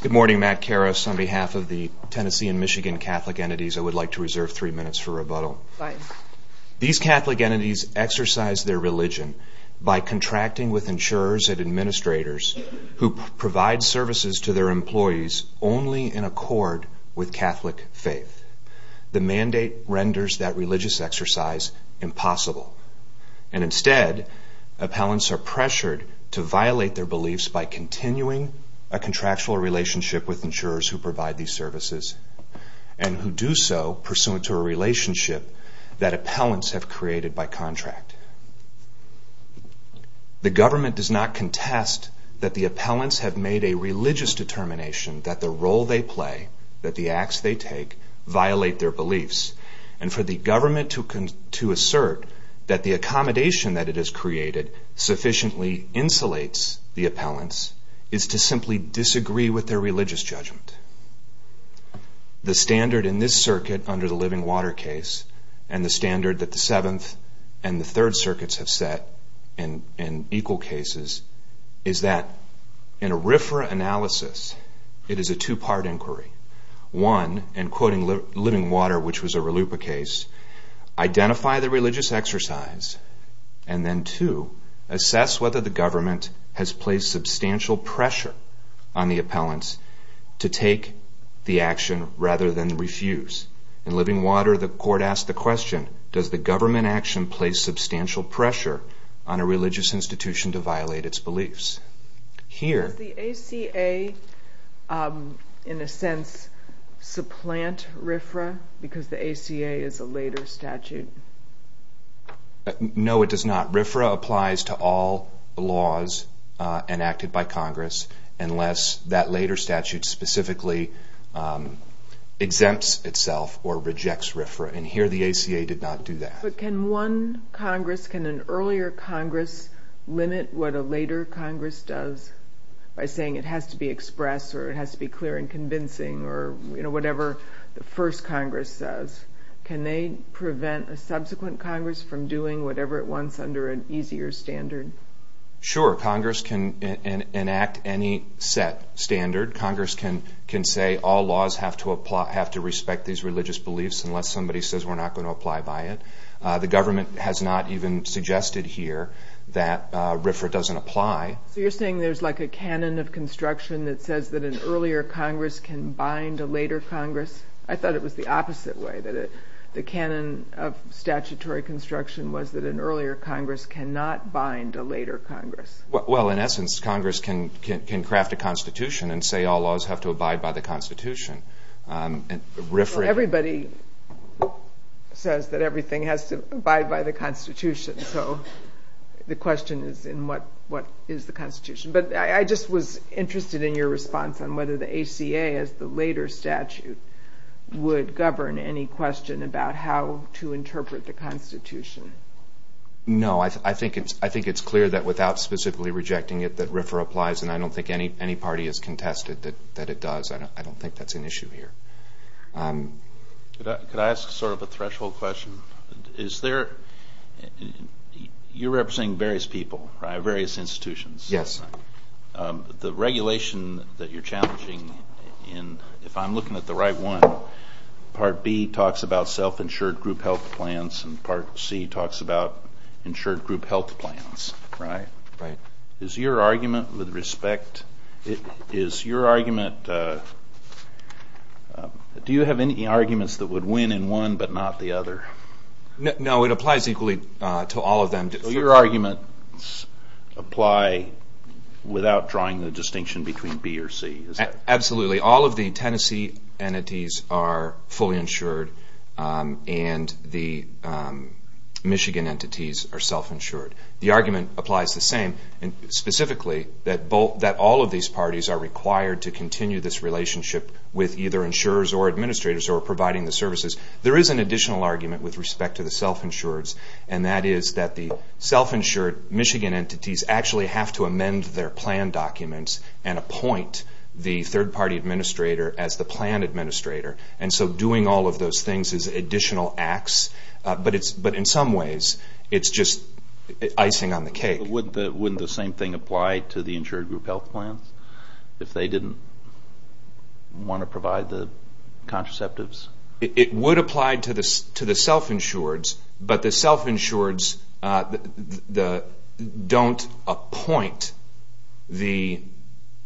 Good morning, Matt Karras on behalf of the Tennessee and Michigan Catholic Entities. I would like to reserve three minutes for rebuttal. These Catholic entities exercise their religion by contracting with insurers and administrators who provide services to their employees only in accord with Catholic faith. The mandate renders that religious exercise impossible. And instead, appellants are pressured to violate their do so pursuant to a relationship that appellants have created by contract. The government does not contest that the appellants have made a religious determination that the role they play, that the acts they take, violate their beliefs. And for the government to assert that the accommodation that it has created sufficiently insulates the appellants is to simply disagree with their religious judgment. The standard in this circuit under the Living Water case and the standard that the Seventh and the Third Circuits have set in equal cases is that in a RFRA analysis, it is a two-part inquiry. One, in quoting Living Water which was a RLUIPA case, identify the religious exercise and then two, assess whether the appellants to take the action rather than refuse. In Living Water, the court asked the question, does the government action place substantial pressure on a religious institution to violate its beliefs? Here... Does the ACA, in a sense, supplant RFRA because the ACA is a later statute? No, it does not. RFRA applies to all laws enacted by Congress unless that later statute specifically exempts itself or rejects RFRA and here the ACA did not do that. Can one Congress, can an earlier Congress limit what a later Congress does by saying it has to be expressed or it has to be clear and convincing or whatever the first Congress says, can they prevent a subsequent Congress from doing whatever it wants under an easier standard? Sure, Congress can enact any set standard. Congress can say all laws have to respect these religious beliefs unless somebody says we're not going to apply by it. The government has not even suggested here that RFRA doesn't apply. So you're saying there's like a canon of construction that says that an earlier Congress can bind a later Congress? I thought it was the opposite way, that the canon of statutory construction was that an earlier Congress cannot bind a later Congress. Well, in essence, Congress can craft a constitution and say all laws have to abide by the constitution. Everybody says that everything has to abide by the constitution, so the question is in what is the constitution? But I just was interested in your response on whether the ACA as the later statute would govern any question about how to interpret the constitution. No, I think it's clear that without specifically rejecting it that RFRA applies and I don't think any party has contested that it does. I don't think that's an issue here. Could I ask sort of a threshold question? You're representing various people, various institutions. The regulation that you're challenging, if I'm looking at the right one, part B talks about self-insured group health plans and part C talks about insured group health plans. Is your argument, do you have any arguments that would win in one but not the other? No, it applies equally to all of them. Your arguments apply without drawing the distinction between B or C, is that right? Absolutely. All of the Tennessee entities are fully insured and the Michigan entities are self-insured. The argument applies the same, specifically that all of these parties are required to continue this relationship with either insurers or administrators or providing the services. There is an additional argument with respect to the self-insureds and that is that the self-insured Michigan entities actually have to amend their plan documents and appoint the third party administrator as the plan administrator. And so doing all of those things is additional acts but in some ways it's just icing on the cake. Wouldn't the same thing apply to the insured group health plans if they didn't want to provide the contraceptives? It would apply to the self-insureds but the self-insureds don't appoint the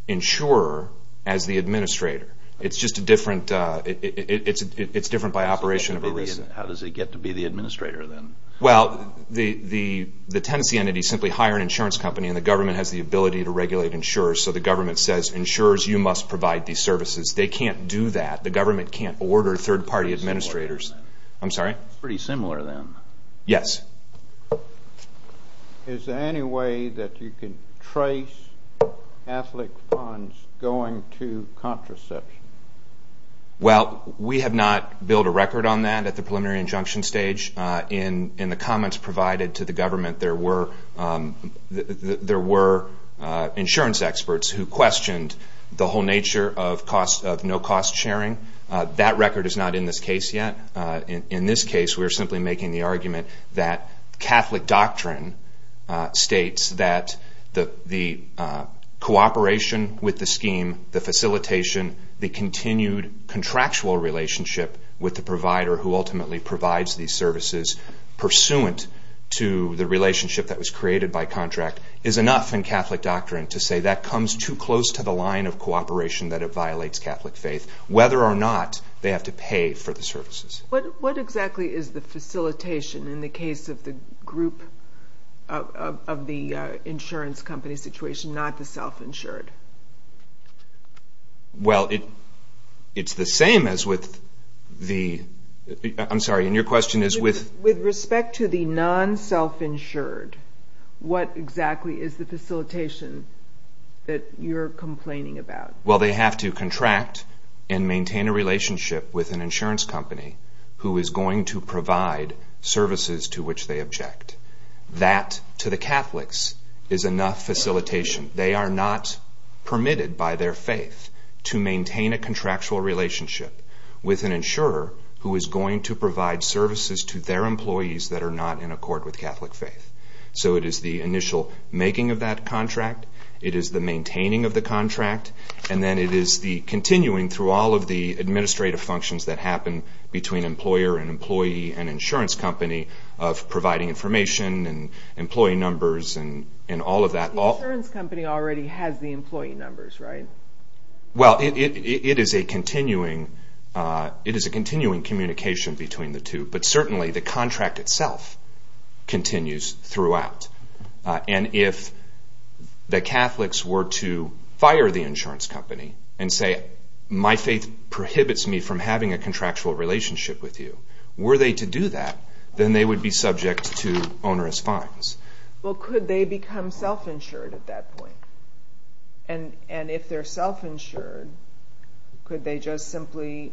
insurer as the administrator. It's just different by operation of a reason. How does it get to be the administrator then? Well, the Tennessee entities simply hire an insurance company and the government has the ability to regulate insurers so the government says insurers you must provide these services. They can't do that. The government can't order third party administrators. It's pretty similar then. Yes. Is there any way that you can trace athlete funds going to contraception? Well we have not built a record on that at the preliminary injunction stage. In the comments provided to the government there were insurance experts who questioned the whole nature of no cost sharing. That record is not in this case yet. In this case we are simply making the argument that Catholic doctrine states that the cooperation with the scheme, the facilitation, the continued contractual relationship with the provider who ultimately provides these services pursuant to the relationship that was created by contract is enough in that it violates Catholic faith. Whether or not they have to pay for the services. What exactly is the facilitation in the case of the group of the insurance company situation, not the self-insured? Well, it's the same as with the... I'm sorry, and your question is with... With respect to the non-self-insured, what exactly is the facilitation that you're complaining about? Well they have to contract and maintain a relationship with an insurance company who is going to provide services to which they object. That to the Catholics is enough facilitation. They are not permitted by their faith to maintain a contractual relationship with an insurer who is going to provide services to their employees that are not in accord with Catholic faith. And then it is the continuing through all of the administrative functions that happen between employer and employee and insurance company of providing information and employee numbers and all of that. The insurance company already has the employee numbers, right? Well it is a continuing communication between the two. But certainly the contract itself continues throughout. And if the Catholics were to fire the insurance company and say my faith prohibits me from having a contractual relationship with you, were they to do that then they would be subject to onerous fines. Well could they become self-insured at that point? And if they're self-insured, could they just simply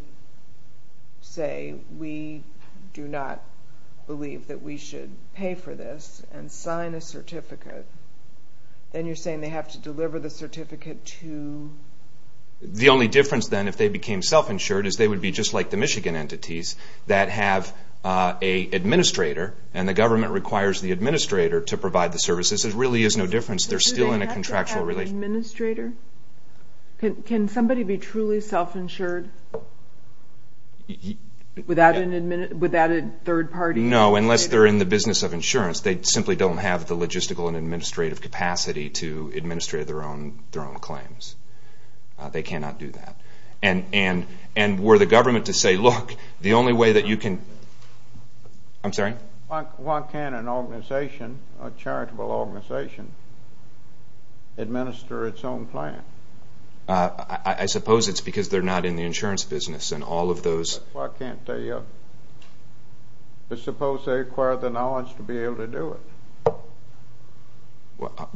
say we do not believe that we should pay for this and sign a certificate? And you're saying they have to deliver the certificate to... The only difference then if they became self-insured is they would be just like the Michigan entities that have an administrator and the government requires the administrator to provide the services. There really is no difference. They're still in a contractual relationship. Can somebody be truly self-insured without a third party? No, unless they're in the business of insurance. They simply don't have the logistical and administrative capacity to administrate their own claims. They cannot do that. And were the government to say look, the only way that you can... Why can't an organization, a charitable organization, administrate their own claims? I suppose it's because they're not in the insurance business and all of those... Why can't they... I suppose they require the knowledge to be able to do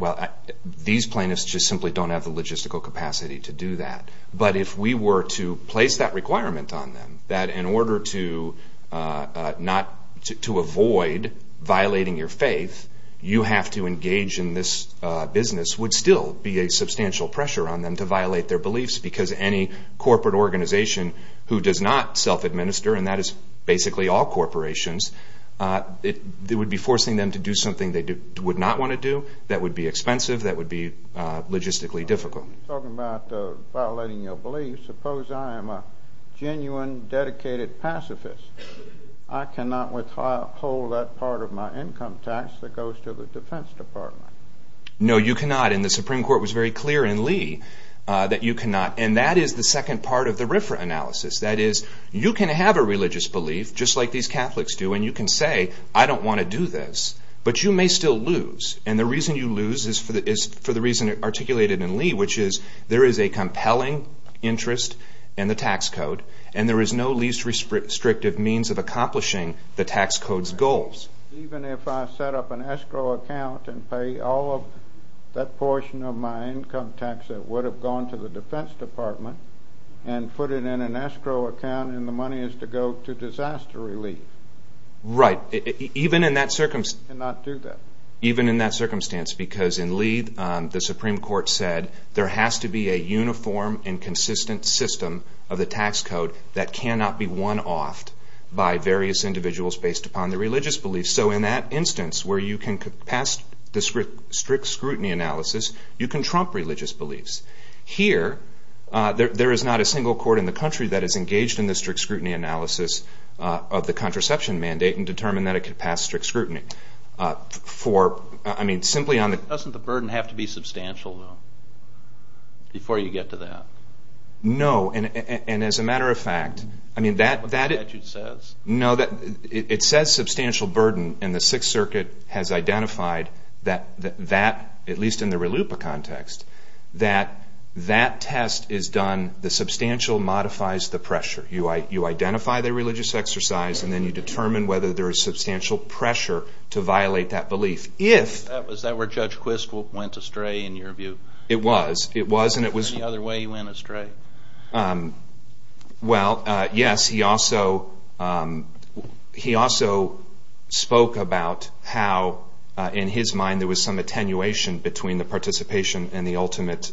it. These plaintiffs just simply don't have the logistical capacity to do that. But if we were to place that requirement on them, that in order to avoid violating your faith, you have to engage in this business, would still be a substantial pressure on them to violate their beliefs because any corporate organization who does not self-administer, and that is basically all corporations, it would be forcing them to do something they would not want to do. That would be expensive. That would be logistically difficult. Talking about violating your beliefs, suppose I am a genuine, dedicated pacifist. I cannot withhold that part of my income tax that goes to the Defense Department. No you cannot. And the Supreme Court was very clear in Lee that you cannot. And that is the second part of the RFRA analysis. That is, you can have a religious belief, just like these Catholics do, and you can say I don't want to do this. But you may still lose. And the reason you lose is for the reason articulated in Lee, which is there is a compelling interest in the tax code, and there is no least restrictive means of accomplishing the tax code's goals. Even if I set up an escrow account and pay all of that portion of my income tax that would have gone to the Defense Department, and put it in an escrow account, and the money is to go to disaster relief, I cannot do that. Even in that circumstance, because in Lee, the Supreme Court said there has to be a uniform and consistent system of the tax code that cannot be one-offed by various individuals based upon their religious beliefs. So in that instance where you can pass the strict scrutiny analysis, you can trump religious beliefs. Here, there is not a single court in the country that is engaged in the strict scrutiny analysis of the contraception mandate and determined that it can pass strict scrutiny. Doesn't the burden have to be substantial, though, before you get to that? No, and as a matter of fact, it says substantial burden, and the Sixth Circuit has identified that, at least in the RLUIPA context, that that test is done, the substantial modifies the pressure. You identify the religious exercise, and then you determine whether there is substantial pressure to violate that belief. Was that where Judge Quist went astray, in your view? It was. Any other way he went astray? Well, yes. He also spoke about how, in his mind, there was some attenuation between the participation and the ultimate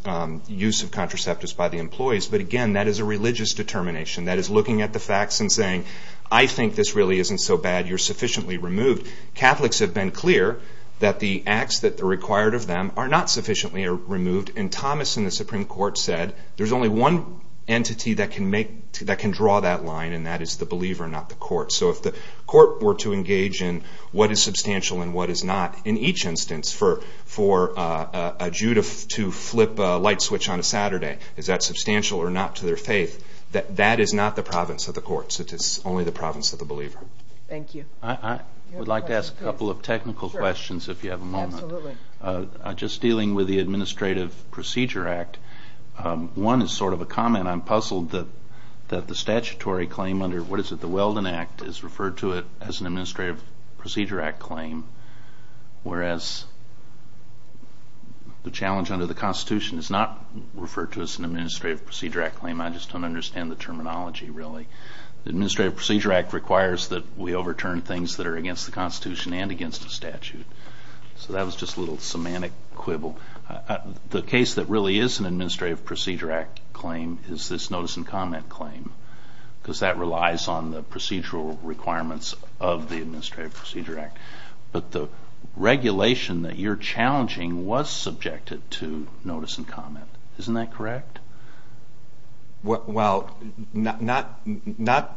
use of contraceptives by the employees. But again, that is a religious determination. That is looking at the facts and saying, I think this really isn't so bad. You're sufficiently removed. Catholics have been clear that the acts that are required of them are not sufficiently removed, and Thomas in the Supreme Court said there's only one entity that can draw that line, and that is the believer, not the court. So if the court were to engage in what is substantial and what is not, in each instance, for a Jew to flip a light switch on a Saturday, is that substantial or not to their faith? That is not the province of the courts. It is only the province of the believer. Thank you. I would like to ask a couple of technical questions, if you have a moment. Just dealing with the Administrative Procedure Act, one is sort of a comment. I'm puzzled that the statutory claim under, what is it, the Weldon Act, is referred to as an Administrative Procedure Act claim, whereas the challenge under the Constitution is not referred to as an Administrative Procedure Act claim. I just don't understand the terminology, really. Administrative Procedure Act requires that we overturn things that are against the Constitution and against the statute. So that was just a little semantic quibble. The case that really is an Administrative Procedure Act claim is this notice and comment claim, because that relies on the procedural requirements of the Administrative Procedure Act. But the regulation that you're challenging was subjected to notice and comment. Isn't that correct? Well, not... The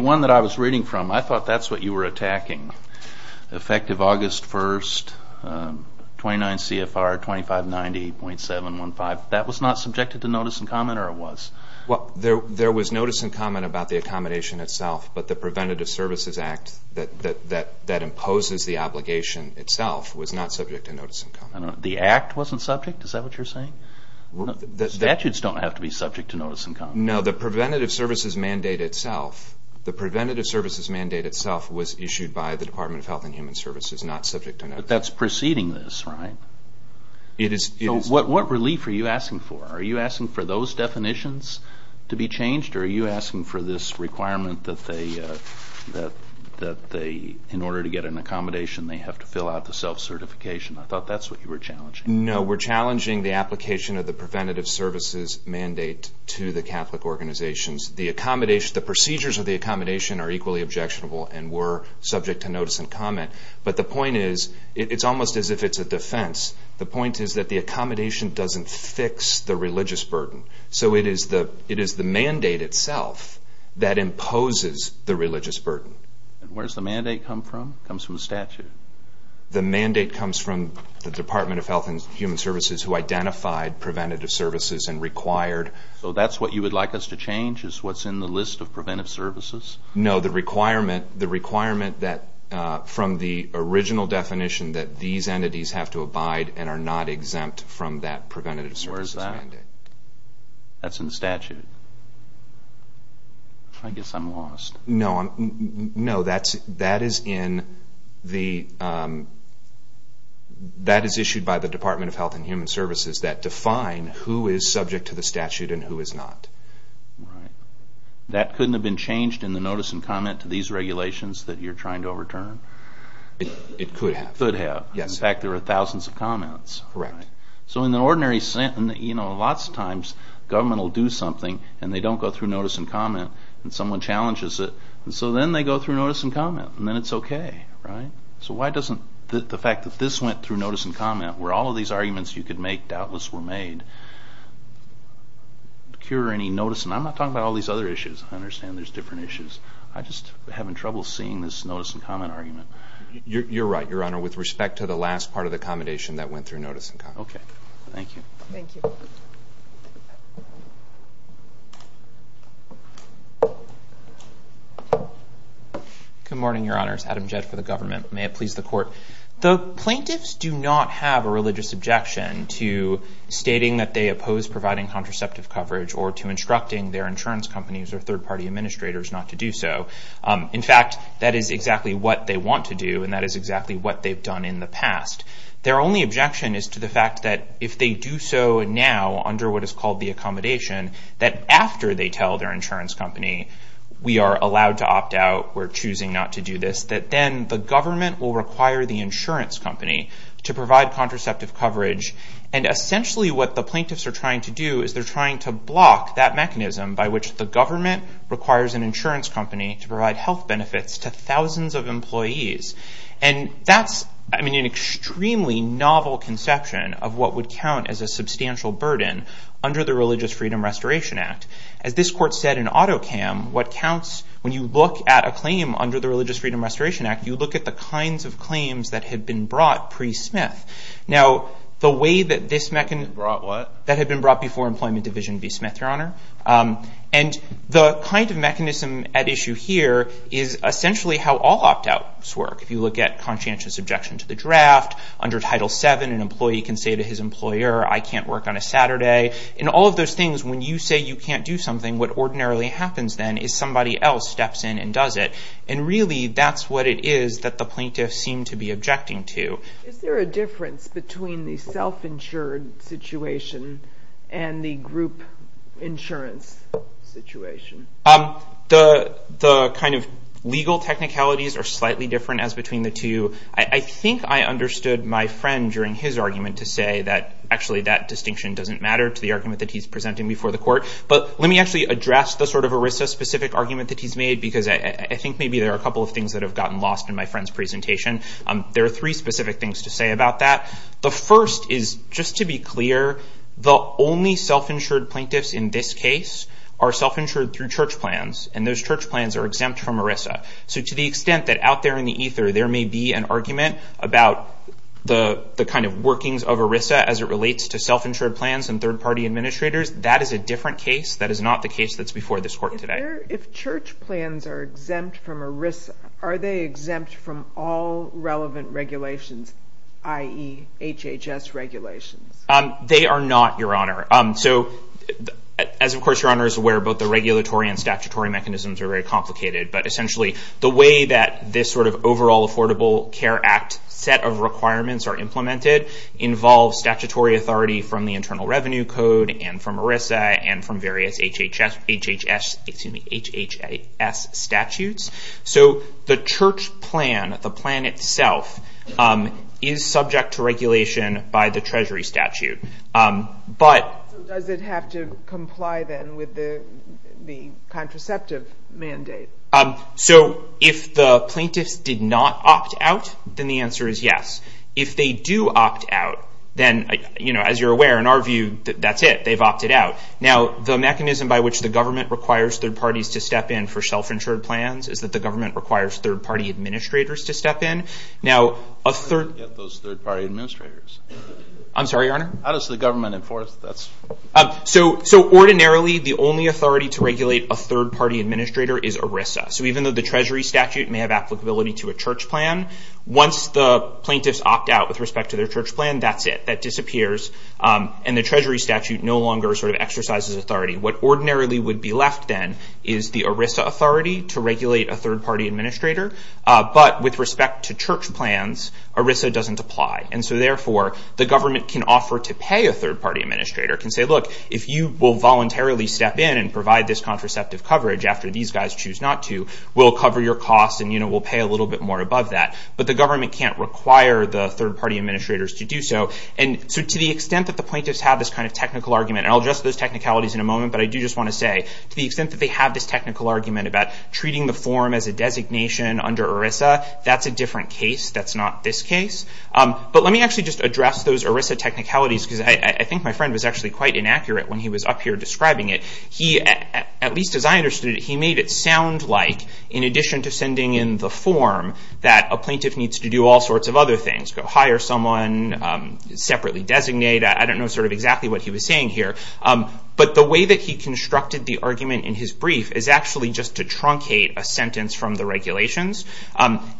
one that I was reading from, I thought that's what you were attacking. Effective August 1st, 29 CFR 2590.715, that was not subjected to notice and comment or it was? There was notice and comment about the accommodation itself, but the Preventative Services Act that imposes the obligation itself was not subject to notice and comment. The Act wasn't subject? Is that what you're saying? Statutes don't have to be subject to notice and comment. No, the Preventative Services Mandate itself was issued by the Department of Health and Human Services, not subject to notice and comment. That's preceding this, right? What relief are you asking for? Are you asking for those definitions to be changed or are you asking for this requirement that in order to get an accommodation, they have to fill out the self-certification? I thought that's what you were challenging. No, we're challenging the application of the Preventative Services Mandate to the Catholic organizations. The accommodation, the procedures of the accommodation are equally objectionable and were subject to notice and comment. But the point is, it's almost as if it's a defense. The point is that the accommodation doesn't fix the religious burden. So it is the mandate itself that imposes the religious burden. Where does the mandate come from? It comes from the statute? The mandate comes from the Department of Health and Human Services, who identified preventative services and required... So that's what you would like us to change, is what's in the list of preventative services? No, the requirement that from the original definition that these entities have to abide and are not exempt from that Preventative Services Mandate. Where is that? That's in the statute. I guess I'm lost. No, that is issued by the Department of Health and Human Services that define who is subject to the statute and who is not. That couldn't have been changed in the notice and comment to these regulations that you're trying to overturn? It could have. It could have. In fact, there are thousands of comments. So in the ordinary sense, you know, lots of times government will do something and they don't go through notice and comment and someone challenges it. So then they go through notice and comment and then it's okay. So why doesn't the fact that this went through notice and comment, where all of these arguments you could make doubtless were made, cure any notice... I'm not talking about all these other issues. I understand there's different issues. I'm just having trouble seeing this notice and comment argument. You're right, Your Honor. With respect to the last part of the commendation that went through notice and comment. Okay. Thank you. Thank you. Good morning, Your Honors. Adam Jett for the government. May it please the court. The plaintiffs do not have a religious objection to stating that they oppose providing contraceptive coverage or to instructing their insurance companies or third party administrators not to do so. In fact, that is exactly what they want to do and that is exactly what they've done in the past. Their only objection is to the fact that if they do so now under what is called the accommodation, that after they tell their insurance company, we are allowed to opt out, we're choosing not to do this, that then the government will require the insurance company to provide contraceptive coverage. Essentially what the plaintiffs are trying to do is they're trying to block that mechanism by which the government requires an insurance company to provide health benefits to thousands of employees. That's an extremely novel conception of what would count as a substantial burden under the Religious Freedom Restoration Act. As this court said in AutoCam, when you look at a claim under the Religious Freedom Restoration Act, you look at the kinds of claims that had been brought pre-Smith. Brought what? That had been brought before Employment Division v. Smith, Your Honor. The kind of mechanism at issue here is essentially how all opt outs work. If you look at conscientious objection to the draft, under Title VII an employee can say to his employer, I can't work on a Saturday, and all of those things, when you say you can't do something, what ordinarily happens then is somebody else steps in and does it. Really, that's what it is that the plaintiffs seem to be objecting to. Is there a difference between the self-insured situation and the group insurance situation? The kind of legal technicalities are slightly different as between the two. I think I understood my friend during his argument to say that actually that distinction doesn't matter to the argument that he's presenting before the court, but let me actually address the sort of ERISA specific argument that he's made because I think maybe there are a couple of things that have gotten lost in my friend's presentation. There are three specific things to say about that. The first is just to be clear, the only self-insured plaintiffs in this case are self-insured through church plans, and those church plans are exempt from ERISA. To the extent that out there in the ether, there may be an argument about the kind of workings of ERISA as it relates to self-insured plans and third-party administrators, that is a different case. That is not the case that's before this court today. If church plans are exempt from ERISA, are they exempt from all relevant regulations, i.e., HHS regulations? They are not, Your Honor. As of course, Your Honor is aware, both the regulatory and statutory mechanisms are very The way that this sort of overall Affordable Care Act set of requirements are implemented involves statutory authority from the Internal Revenue Code and from ERISA and from various HHS statutes. The church plan, the plan itself, is subject to regulation by the Treasury statute, but Does it have to comply then with the contraceptive mandate? So if the plaintiffs did not opt out, then the answer is yes. If they do opt out, then as you're aware, in our view, that's it. They've opted out. Now, the mechanism by which the government requires third parties to step in for self-insured plans is that the government requires third-party administrators to step in. Now, a third... Where do you get those third-party administrators? I'm sorry, Your Honor? How does the government enforce that? So ordinarily, the only authority to regulate a third-party administrator is ERISA. So even though the Treasury statute may have applicability to a church plan, once the plaintiffs opt out with respect to their church plan, that's it. That disappears, and the Treasury statute no longer sort of exercises authority. What ordinarily would be left then is the ERISA authority to regulate a third-party administrator, but with respect to church plans, ERISA doesn't apply. And so therefore, the government can offer to pay a third-party administrator, can say, look, if you will voluntarily step in and provide this contraceptive coverage after these guys choose not to, we'll cover your costs, and we'll pay a little bit more above that. But the government can't require the third-party administrators to do so. And so to the extent that the plaintiffs have this kind of technical argument, and I'll address those technicalities in a moment, but I do just want to say, to the extent that they have this technical argument about treating the form as a designation under ERISA, that's a different case. That's not this case. But let me actually just address those ERISA technicalities, because I think my friend was actually quite inaccurate when he was up here describing it. He, at least as I understood it, he made it sound like, in addition to sending in the form, that a plaintiff needs to do all sorts of other things, go hire someone, separately designate. I don't know sort of exactly what he was saying here. But the way that he constructed the argument in his brief is actually just to truncate a sentence from the regulations.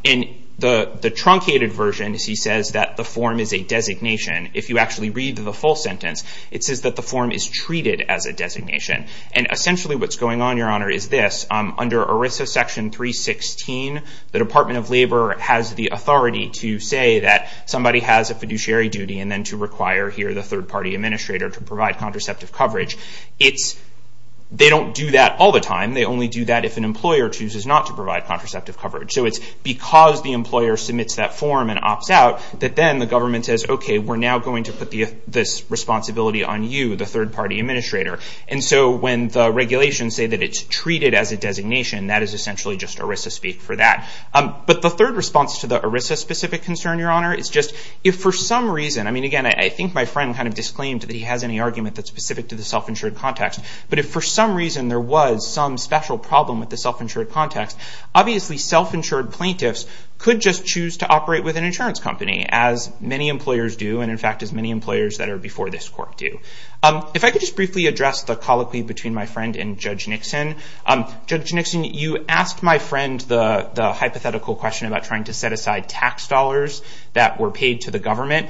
In the truncated version, he says that the form is a designation. If you actually read the full sentence, it says that the form is treated as a designation. And essentially what's going on, Your Honor, is this. Under ERISA Section 316, the Department of Labor has the authority to say that somebody has a fiduciary duty and then to require here the third-party administrator to provide contraceptive coverage. They don't do that all the time. They only do that if an employer chooses not to provide contraceptive coverage. So it's because the employer submits that form and opts out that then the government says, okay, we're now going to put this responsibility on you, the third-party administrator. And so when the regulations say that it's treated as a designation, that is essentially just ERISA speak for that. But the third response to the ERISA-specific concern, Your Honor, is just if for some reason – I mean, again, I think my friend kind of disclaimed that he has any argument that's specific to the self-insured context. But if for some reason there was some special problem with the self-insured context, obviously self-insured plaintiffs could just choose to operate with an insurance company, as many employers do, and in fact as many employers that are before this court do. If I could just briefly address the colloquy between my friend and Judge Nixon. Judge Nixon, you asked my friend the hypothetical question about trying to set aside tax dollars that were paid to the government.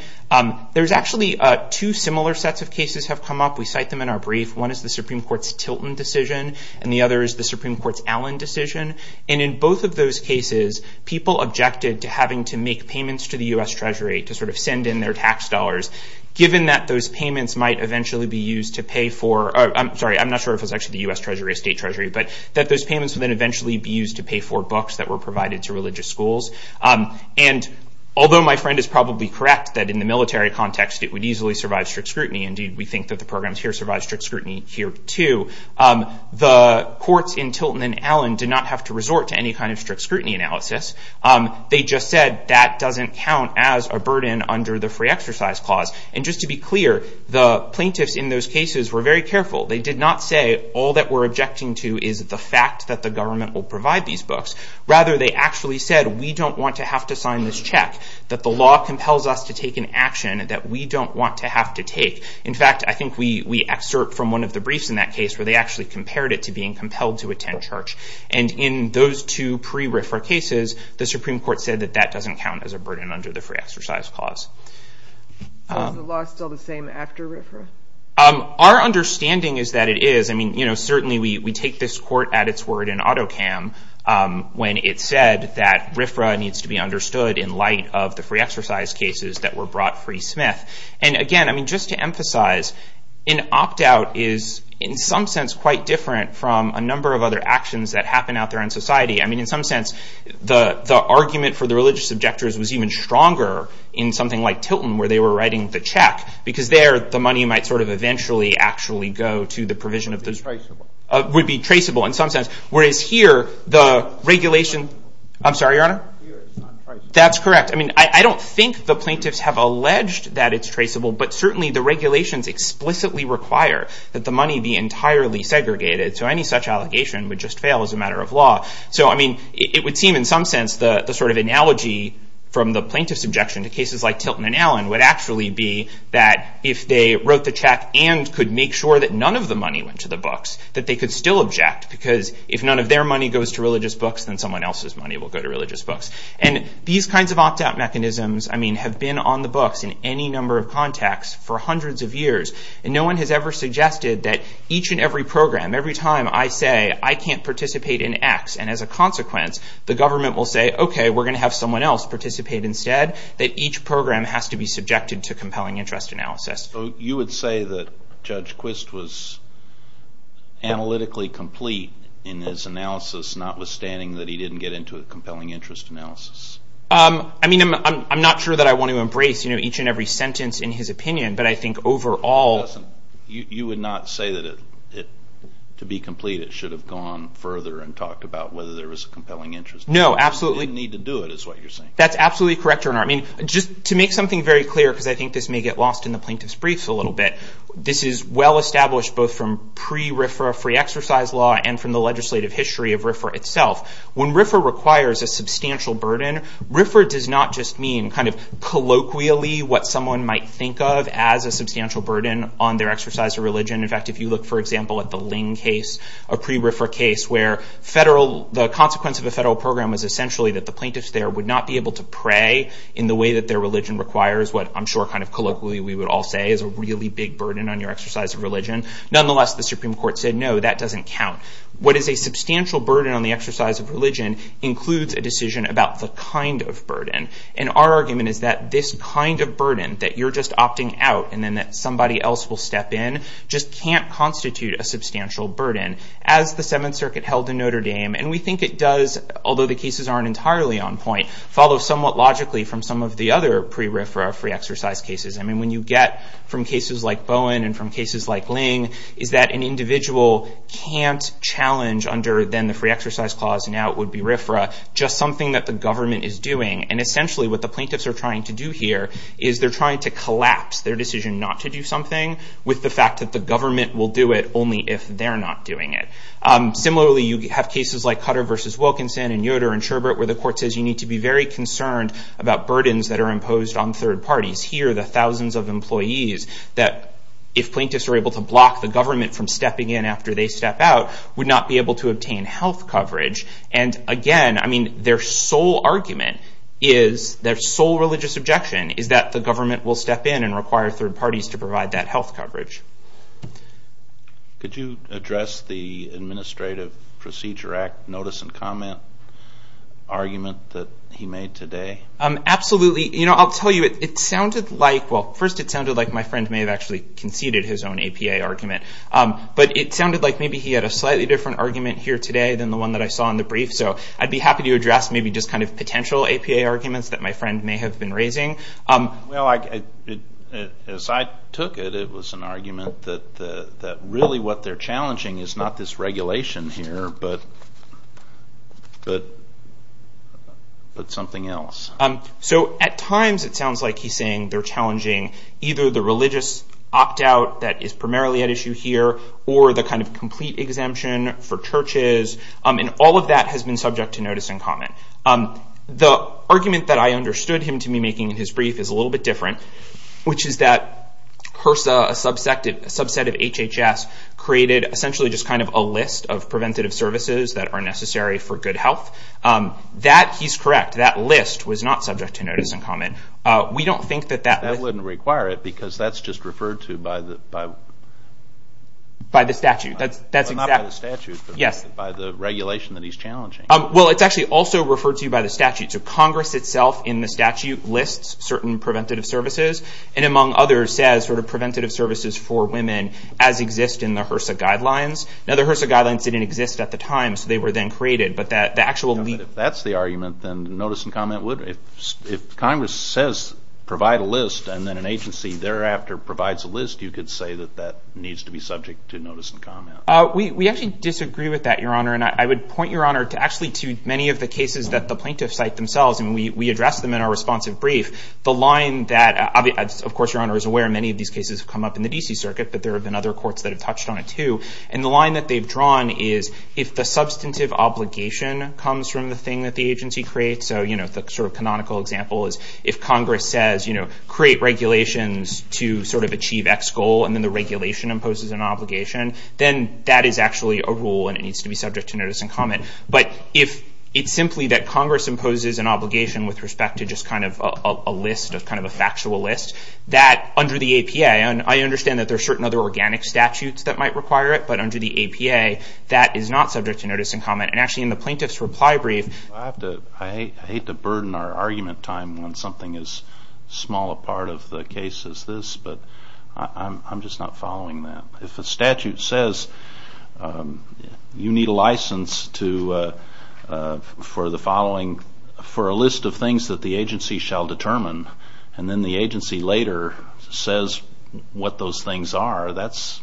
There's actually two similar sets of cases have come up. We cite them in our brief. One is the Supreme Court's Tilton decision, and the other is the Supreme Court's Allen decision. And in both of those cases, people objected to having to make payments to the U.S. Treasury to sort of send in their tax dollars, given that those payments might eventually be used to pay for – I'm sorry, I'm not sure if it's actually the U.S. Treasury or State Treasury – but that those payments would then eventually be used to pay for books that were provided to religious schools. And although my friend is probably correct that in the military context it would easily survive strict scrutiny. Indeed, we think that the programs here survive strict scrutiny here, too. The courts in Tilton and Allen did not have to resort to any kind of strict scrutiny analysis. They just said that doesn't count as a burden under the free exercise clause. And just to be clear, the plaintiffs in those cases were very careful. They did not say all that we're objecting to is the fact that the government will provide these books. Rather, they actually said we don't want to have to sign this check, that the law compels us to take an action that we don't want to have to take. In fact, I think we excerpt from one of the briefs in that case where they actually compared it to being compelled to attend church. And in those two pre-RIFRA cases, the Supreme Court said that that doesn't count as a burden under the free exercise clause. Is the law still the same after RIFRA? Our understanding is that it is. I mean, you know, certainly we take this court at its word in AutoCAM when it said that RIFRA needs to be understood in light of the free exercise cases that were brought free smith. And again, I mean, just to emphasize, an opt-out is in some sense quite different from a number of other actions that happen out there in society. I mean, in some sense, the argument for the religious objectors was even stronger in something like Tilton where they were writing the check. Because there, the money might sort of eventually actually go to the provision of those rights. It would be traceable in some sense, whereas here, the regulation, I'm sorry, your honor? That's correct. I mean, I don't think the plaintiffs have alleged that it's traceable, but certainly the regulations explicitly require that the money be entirely segregated. So any such allegation would just fail as a matter of law. So I mean, it would seem in some sense the sort of analogy from the plaintiff's objection to cases like Tilton and Allen would actually be that if they wrote the check and could make sure that none of the money went to the books, that they could still object. Because if none of their money goes to religious books, then someone else's money will go to books. And these kinds of opt-out mechanisms, I mean, have been on the books in any number of contexts for hundreds of years. And no one has ever suggested that each and every program, every time I say, I can't participate in X, and as a consequence, the government will say, okay, we're going to have someone else participate instead, that each program has to be subjected to compelling interest analysis. So you would say that Judge Quist was analytically complete in his analysis, notwithstanding that he didn't get into a compelling interest analysis? I mean, I'm not sure that I want to embrace each and every sentence in his opinion, but I think overall... You would not say that to be complete, it should have gone further and talked about whether there was a compelling interest analysis. No, absolutely. You didn't need to do it, is what you're saying. That's absolutely correct, Your Honor. I mean, just to make something very clear, because I think this may get lost in the plaintiff's briefs a little bit, this is well-established both from pre-RIFRA free exercise law and from the legislative history of RIFRA itself. When RIFRA requires a substantial burden, RIFRA does not just mean kind of colloquially what someone might think of as a substantial burden on their exercise of religion. In fact, if you look, for example, at the Ling case, a pre-RIFRA case, where the consequence of a federal program was essentially that the plaintiffs there would not be able to pray in the way that their religion requires, what I'm sure kind of colloquially we would all say is a really big burden on your exercise of religion. Nonetheless, the Supreme Court said, no, that doesn't count. What is a substantial burden on the exercise of religion includes a decision about the kind of burden. And our argument is that this kind of burden, that you're just opting out and then that somebody else will step in, just can't constitute a substantial burden. As the Seventh Circuit held in Notre Dame, and we think it does, although the cases aren't entirely on point, follow somewhat logically from some of the other pre-RIFRA free exercise cases. When you get from cases like Bowen and from cases like Ling, is that an individual can't challenge under then the free exercise clause, and now it would be RIFRA, just something that the government is doing. And essentially what the plaintiffs are trying to do here is they're trying to collapse their decision not to do something with the fact that the government will do it only if they're not doing it. Similarly, you have cases like Cutter v. Wilkinson and Yoder and Sherbert, where the court says you need to be very concerned about burdens that are imposed on third parties. Here, the thousands of employees that, if plaintiffs were able to block the government from stepping in after they step out, would not be able to obtain health coverage. And again, their sole argument is, their sole religious objection, is that the government will step in and require third parties to provide that health coverage. Could you address the Administrative Procedure Act notice and comment argument that he made today? Absolutely. You know, I'll tell you, it sounded like, well, first it sounded like my friend may have actually conceded his own APA argument. But it sounded like maybe he had a slightly different argument here today than the one that I saw in the brief. So I'd be happy to address maybe just kind of potential APA arguments that my friend may have been raising. Well, as I took it, it was an argument that really what they're challenging is not this regulation here, but something else. So at times it sounds like he's saying they're challenging either the religious opt-out that is primarily at issue here, or the kind of complete exemption for churches, and all of that has been subject to notice and comment. The argument that I understood him to be making in his brief is a little bit different, which is that HRSA, a subset of HHS, created essentially just kind of a list of preventative services that are necessary for good health. That he's correct. That list was not subject to notice and comment. We don't think that that... That wouldn't require it, because that's just referred to by the statute. That's exactly... Not by the statute, but by the regulation that he's challenging. Well, it's actually also referred to by the statute. So Congress itself in the statute lists certain preventative services, and among others says sort of preventative services for women as exist in the HRSA guidelines. Now, the HRSA guidelines didn't exist at the time, so they were then created. But the actual... But if that's the argument, then notice and comment would... If Congress says provide a list, and then an agency thereafter provides a list, you could say that that needs to be subject to notice and comment. We actually disagree with that, Your Honor, and I would point, Your Honor, to actually to many of the cases that the plaintiffs cite themselves, and we address them in our responsive brief. The line that... Of course, Your Honor is aware many of these cases have come up in the D.C. circuit, but there have been other courts that have touched on it too. And the line that they've drawn is if the substantive obligation comes from the thing that the agency creates, so, you know, the sort of canonical example is if Congress says, you know, create regulations to sort of achieve X goal, and then the regulation imposes an obligation, then that is actually a rule, and it needs to be subject to notice and comment. But if it's simply that Congress imposes an obligation with respect to just kind of a list of... Kind of a factual list, that under the APA, and I understand that there are certain other organic statutes that might require it, but under the APA, that is not subject to notice and comment. And actually in the plaintiff's reply brief... I have to... I hate to burden our argument time when something as small a part of the case is this, but I'm just not following that. If a statute says you need a license to... For the following... For a list of things that the agency shall determine, and then the agency later says what those things are, that's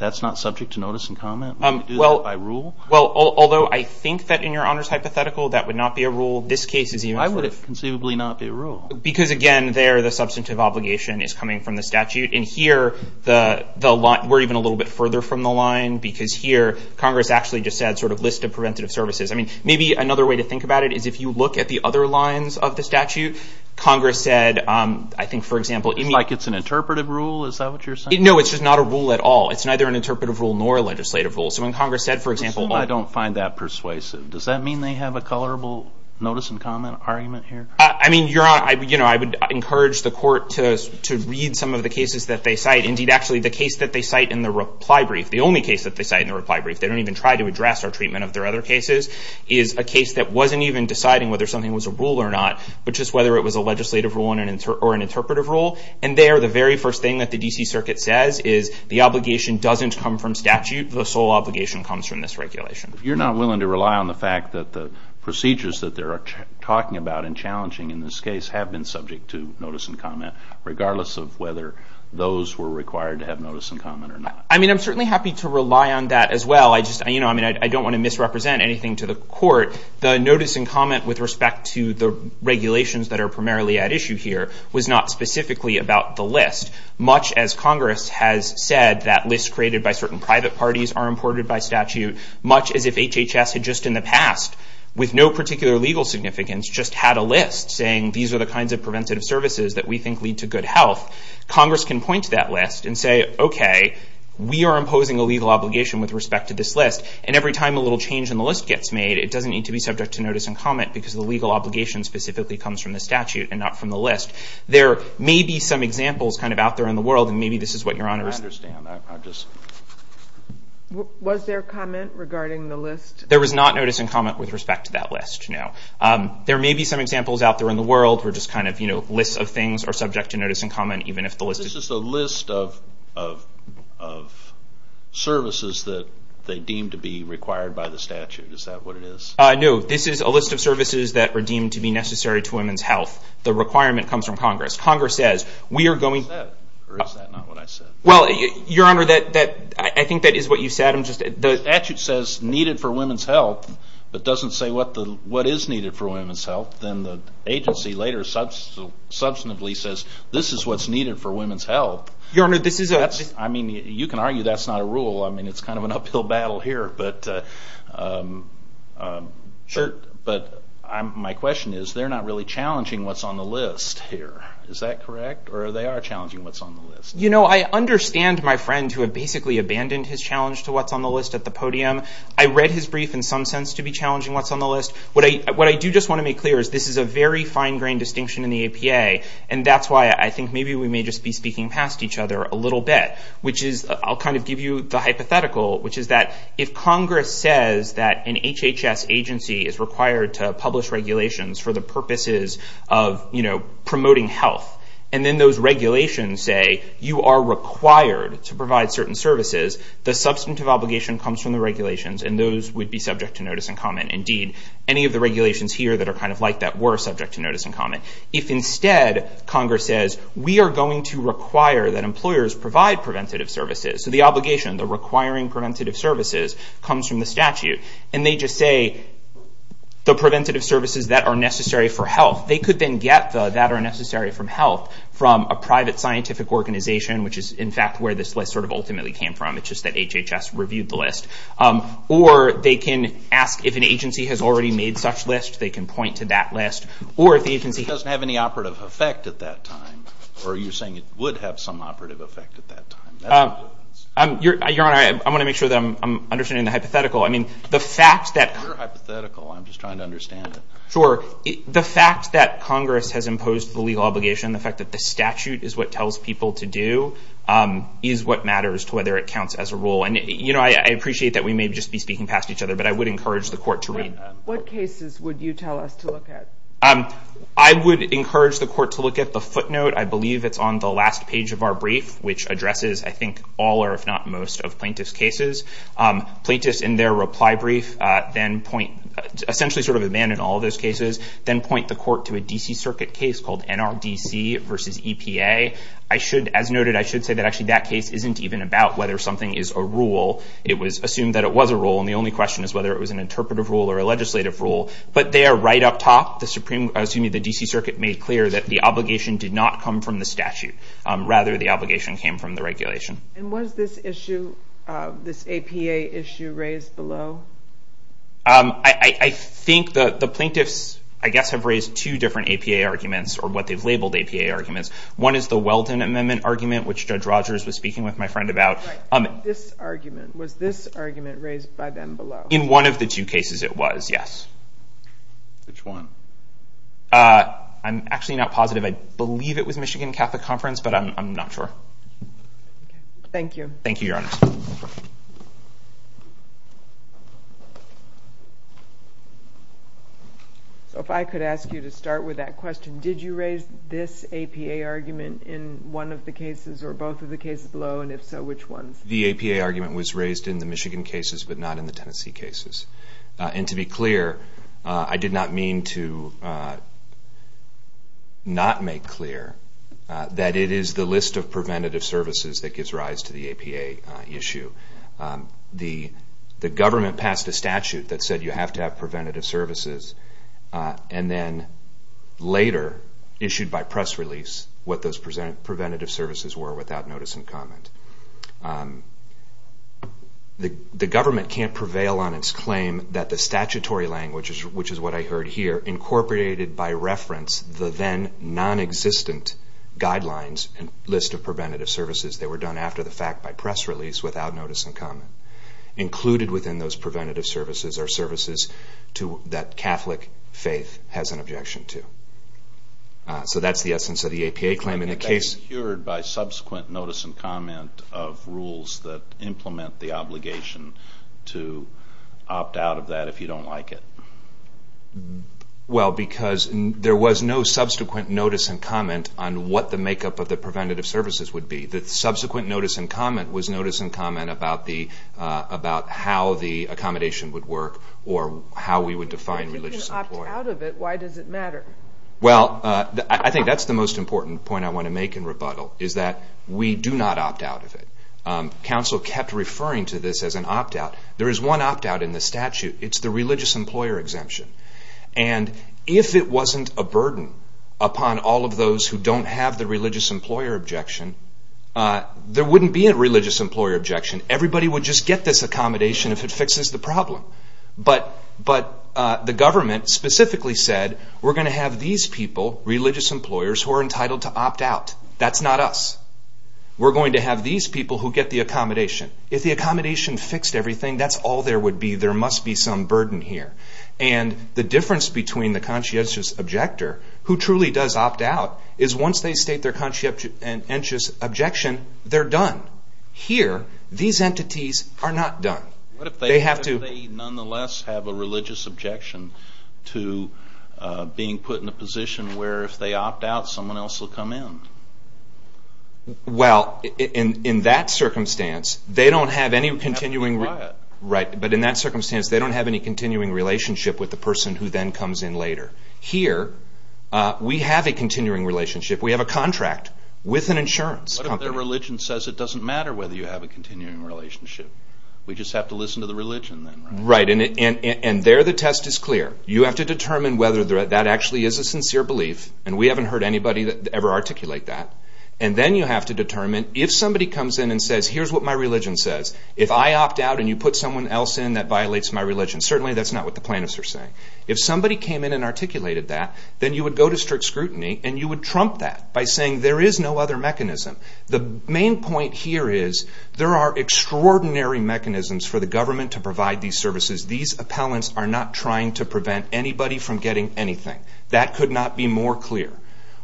not subject to notice and comment? Would you do that by rule? Well, although I think that in your honors hypothetical, that would not be a rule. This case is even... Why would it conceivably not be a rule? Because again, there the substantive obligation is coming from the statute, and here, we're even a little bit further from the line, because here Congress actually just said sort of list of preventative services. I mean, maybe another way to think about it is if you look at the other lines of the statute, Congress said, I think for example... Like it's an interpretive rule? Is that what you're saying? No, it's just not a rule at all. It's neither an interpretive rule nor a legislative rule. So when Congress said, for example... I don't find that persuasive. Does that mean they have a colorable notice and comment argument here? I mean, your honor, I would encourage the court to read some of the cases that they cite. Indeed, actually the case that they cite in the reply brief, the only case that they cite in the reply brief, they don't even try to address our treatment of their other cases, is a case that wasn't even deciding whether something was a rule or not, but just whether it was a legislative rule or an interpretive rule. And there, the very first thing that the D.C. Circuit says is the obligation doesn't come from statute. The sole obligation comes from this regulation. You're not willing to rely on the fact that the procedures that they're talking about and challenging in this case have been subject to notice and comment, regardless of whether those were required to have notice and comment or not? I mean, I'm certainly happy to rely on that as well. I mean, I don't want to misrepresent anything to the court. The notice and comment with respect to the regulations that are primarily at issue here was not specifically about the list, much as Congress has said that lists created by certain private parties are imported by statute, much as if HHS had just in the past, with no particular legal significance, just had a list saying these are the kinds of preventative services that we think lead to good health. Congress can point to that list and say, okay, we are imposing a legal obligation with respect to this list. And every time a little change in the list gets made, it doesn't need to be subject to notice and comment, because the legal obligation specifically comes from the statute and not from the list. There may be some examples kind of out there in the world, and maybe this is what Your Honor's... I understand. I just... Was there comment regarding the list? There was not notice and comment with respect to that list, no. There may be some examples out there in the world where just kind of, you know, lists of things are subject to notice and comment, even if the list... This is a list of services that they deem to be required by the statute. Is that what it is? No. This is a list of services that are deemed to be necessary to women's health. The requirement comes from Congress. Congress says, we are going... Is that what you said? Or is that not what I said? Well, Your Honor, I think that is what you said. The statute says needed for women's health, but doesn't say what is needed for women's health. Then the agency later substantively says, this is what is needed for women's health. Your Honor, this is a... You can argue that is not a rule. It's kind of an uphill battle here, but my question is, they're not really challenging what's on the list here. Is that correct? Or they are challenging what's on the list? You know, I understand my friend who had basically abandoned his challenge to what's on the list at the podium. I read his brief in some sense to be challenging what's on the list. What I do just want to make clear is this is a very fine-grained distinction in the APA, and that's why I think maybe we may just be speaking past each other a little bit, which is I'll kind of give you the hypothetical, which is that if Congress says that an HHS agency is required to publish regulations for the purposes of, you know, promoting health, and then those regulations say you are required to provide certain services, the substantive obligation comes from the regulations, and those would be subject to notice and comment and deed. Any of the regulations here that are kind of like that were subject to notice and comment. If instead, Congress says we are going to require that employers provide preventative services, so the obligation, the requiring preventative services comes from the statute, and they just say the preventative services that are necessary for health, they could then get the that are necessary for health from a private scientific organization, which is in fact where this list sort of ultimately came from. It's just that HHS reviewed the list. Or they can ask if an agency has already made such lists, they can point to that list. Or if the agency doesn't have any operative effect at that time, or you're saying it would have some operative effect at that time, that's what it is. Your Honor, I want to make sure that I'm understanding the hypothetical. I mean, the fact that... You're hypothetical. I'm just trying to understand it. Sure. The fact that Congress has imposed the legal obligation, the fact that the statute is what tells people to do, is what matters to whether it counts as a rule. I appreciate that we may just be speaking past each other, but I would encourage the court to read... What cases would you tell us to look at? I would encourage the court to look at the footnote, I believe it's on the last page of our brief, which addresses, I think, all or if not most of plaintiff's cases. Plaintiffs in their reply brief then point, essentially sort of abandon all those cases, then point the court to a D.C. Circuit case called NRDC versus EPA. As noted, I should say that actually that case isn't even about whether something is a rule. It was assumed that it was a rule, and the only question is whether it was an interpretive rule or a legislative rule. But there, right up top, the D.C. Circuit made clear that the obligation did not come from the statute. Rather, the obligation came from the regulation. And was this issue, this APA issue, raised below? I think the plaintiffs, I guess, have raised two different APA arguments, or what they've labeled APA arguments. One is the Weldon Amendment argument, which Judge Rogers was speaking with my friend about. Right. This argument. Was this argument raised by them below? In one of the two cases, it was, yes. Which one? I'm actually not positive. I believe it was Michigan Catholic Conference, but I'm not sure. Thank you. Thank you, Your Honor. So if I could ask you to start with that question, did you raise this APA argument in one of the cases, or both of the cases below, and if so, which ones? The APA argument was raised in the Michigan cases, but not in the Tennessee cases. And to be clear, I did not mean to not make clear that it is the list of preventative services that gives rise to the APA issue. The government passed a statute that said you have to have preventative services, and then later, issued by press release, what those preventative services were without notice and comment. The government can't prevail on its claim that the statutory language, which is what I heard here, incorporated by reference the then non-existent guidelines and list of preventative services that were done after the fact by press release without notice and comment. Included within those preventative services are services that Catholic faith has an objection to. So that's the essence of the APA claim. And that's cured by subsequent notice and comment of rules that implement the obligation to opt out of that if you don't like it? Well, because there was no subsequent notice and comment on what the makeup of the preventative services would be. The subsequent notice and comment was notice and comment about how the accommodation would work or how we would define religious employer. If you didn't opt out of it, why does it matter? Well, I think that's the most important point I want to make in rebuttal is that we do not opt out of it. Council kept referring to this as an opt out. There is one opt out in the statute. It's the religious employer exemption. And if it wasn't a burden upon all of those who don't have the religious employer objection, there wouldn't be a religious employer objection. Everybody would just get this accommodation if it fixes the problem. But the government specifically said we're going to have these people, religious employers, who are entitled to opt out. That's not us. We're going to have these people who get the accommodation. If the accommodation fixed everything, that's all there would be. There must be some burden here. And the difference between the conscientious objector, who truly does opt out, is once they state their conscientious objection, they're done. Here, these entities are not done. What if they nonetheless have a religious objection to being put in a position where if they opt out, someone else will come in? Well, in that circumstance, they don't have any continuing... relationship with the person who then comes in later. Here, we have a continuing relationship. We have a contract with an insurance company. What if their religion says it doesn't matter whether you have a continuing relationship? We just have to listen to the religion, then, right? Right. And there, the test is clear. You have to determine whether that actually is a sincere belief. And we haven't heard anybody ever articulate that. And then you have to determine, if somebody comes in and says, here's what my religion says, if I opt out and you put someone else in, that violates my religion, certainly that's not what the plaintiffs are saying. If somebody came in and articulated that, then you would go to strict scrutiny and you would trump that by saying there is no other mechanism. The main point here is, there are extraordinary mechanisms for the government to provide these services. These appellants are not trying to prevent anybody from getting anything. That could not be more clear.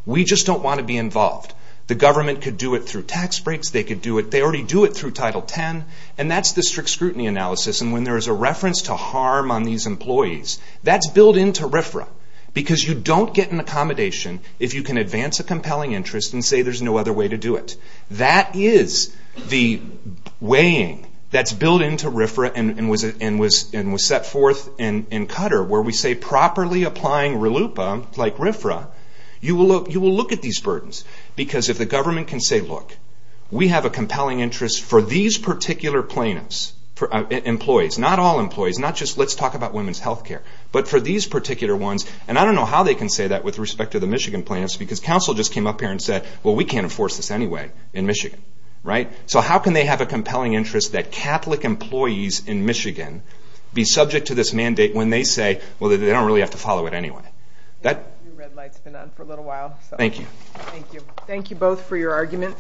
We just don't want to be involved. The government could do it through tax breaks. They could do it... They already do it through Title 10. And that's the strict scrutiny analysis. And when there is a reference to harm on these employees, that's built into RFRA. Because you don't get an accommodation if you can advance a compelling interest and say there's no other way to do it. That is the weighing that's built into RFRA and was set forth in Qatar, where we say properly applying RLUIPA, like RFRA, you will look at these burdens. Because if the government can say, look, we have a compelling interest for these particular plaintiffs, employees, not all employees, not just let's talk about women's health care, but for these particular ones. And I don't know how they can say that with respect to the Michigan plaintiffs, because counsel just came up here and said, well, we can't enforce this anyway in Michigan. So how can they have a compelling interest that Catholic employees in Michigan be subject to this mandate when they say, well, they don't really have to follow it anyway? That... Your red light's been on for a little while. Thank you. Thank you. Thank you both for your argument.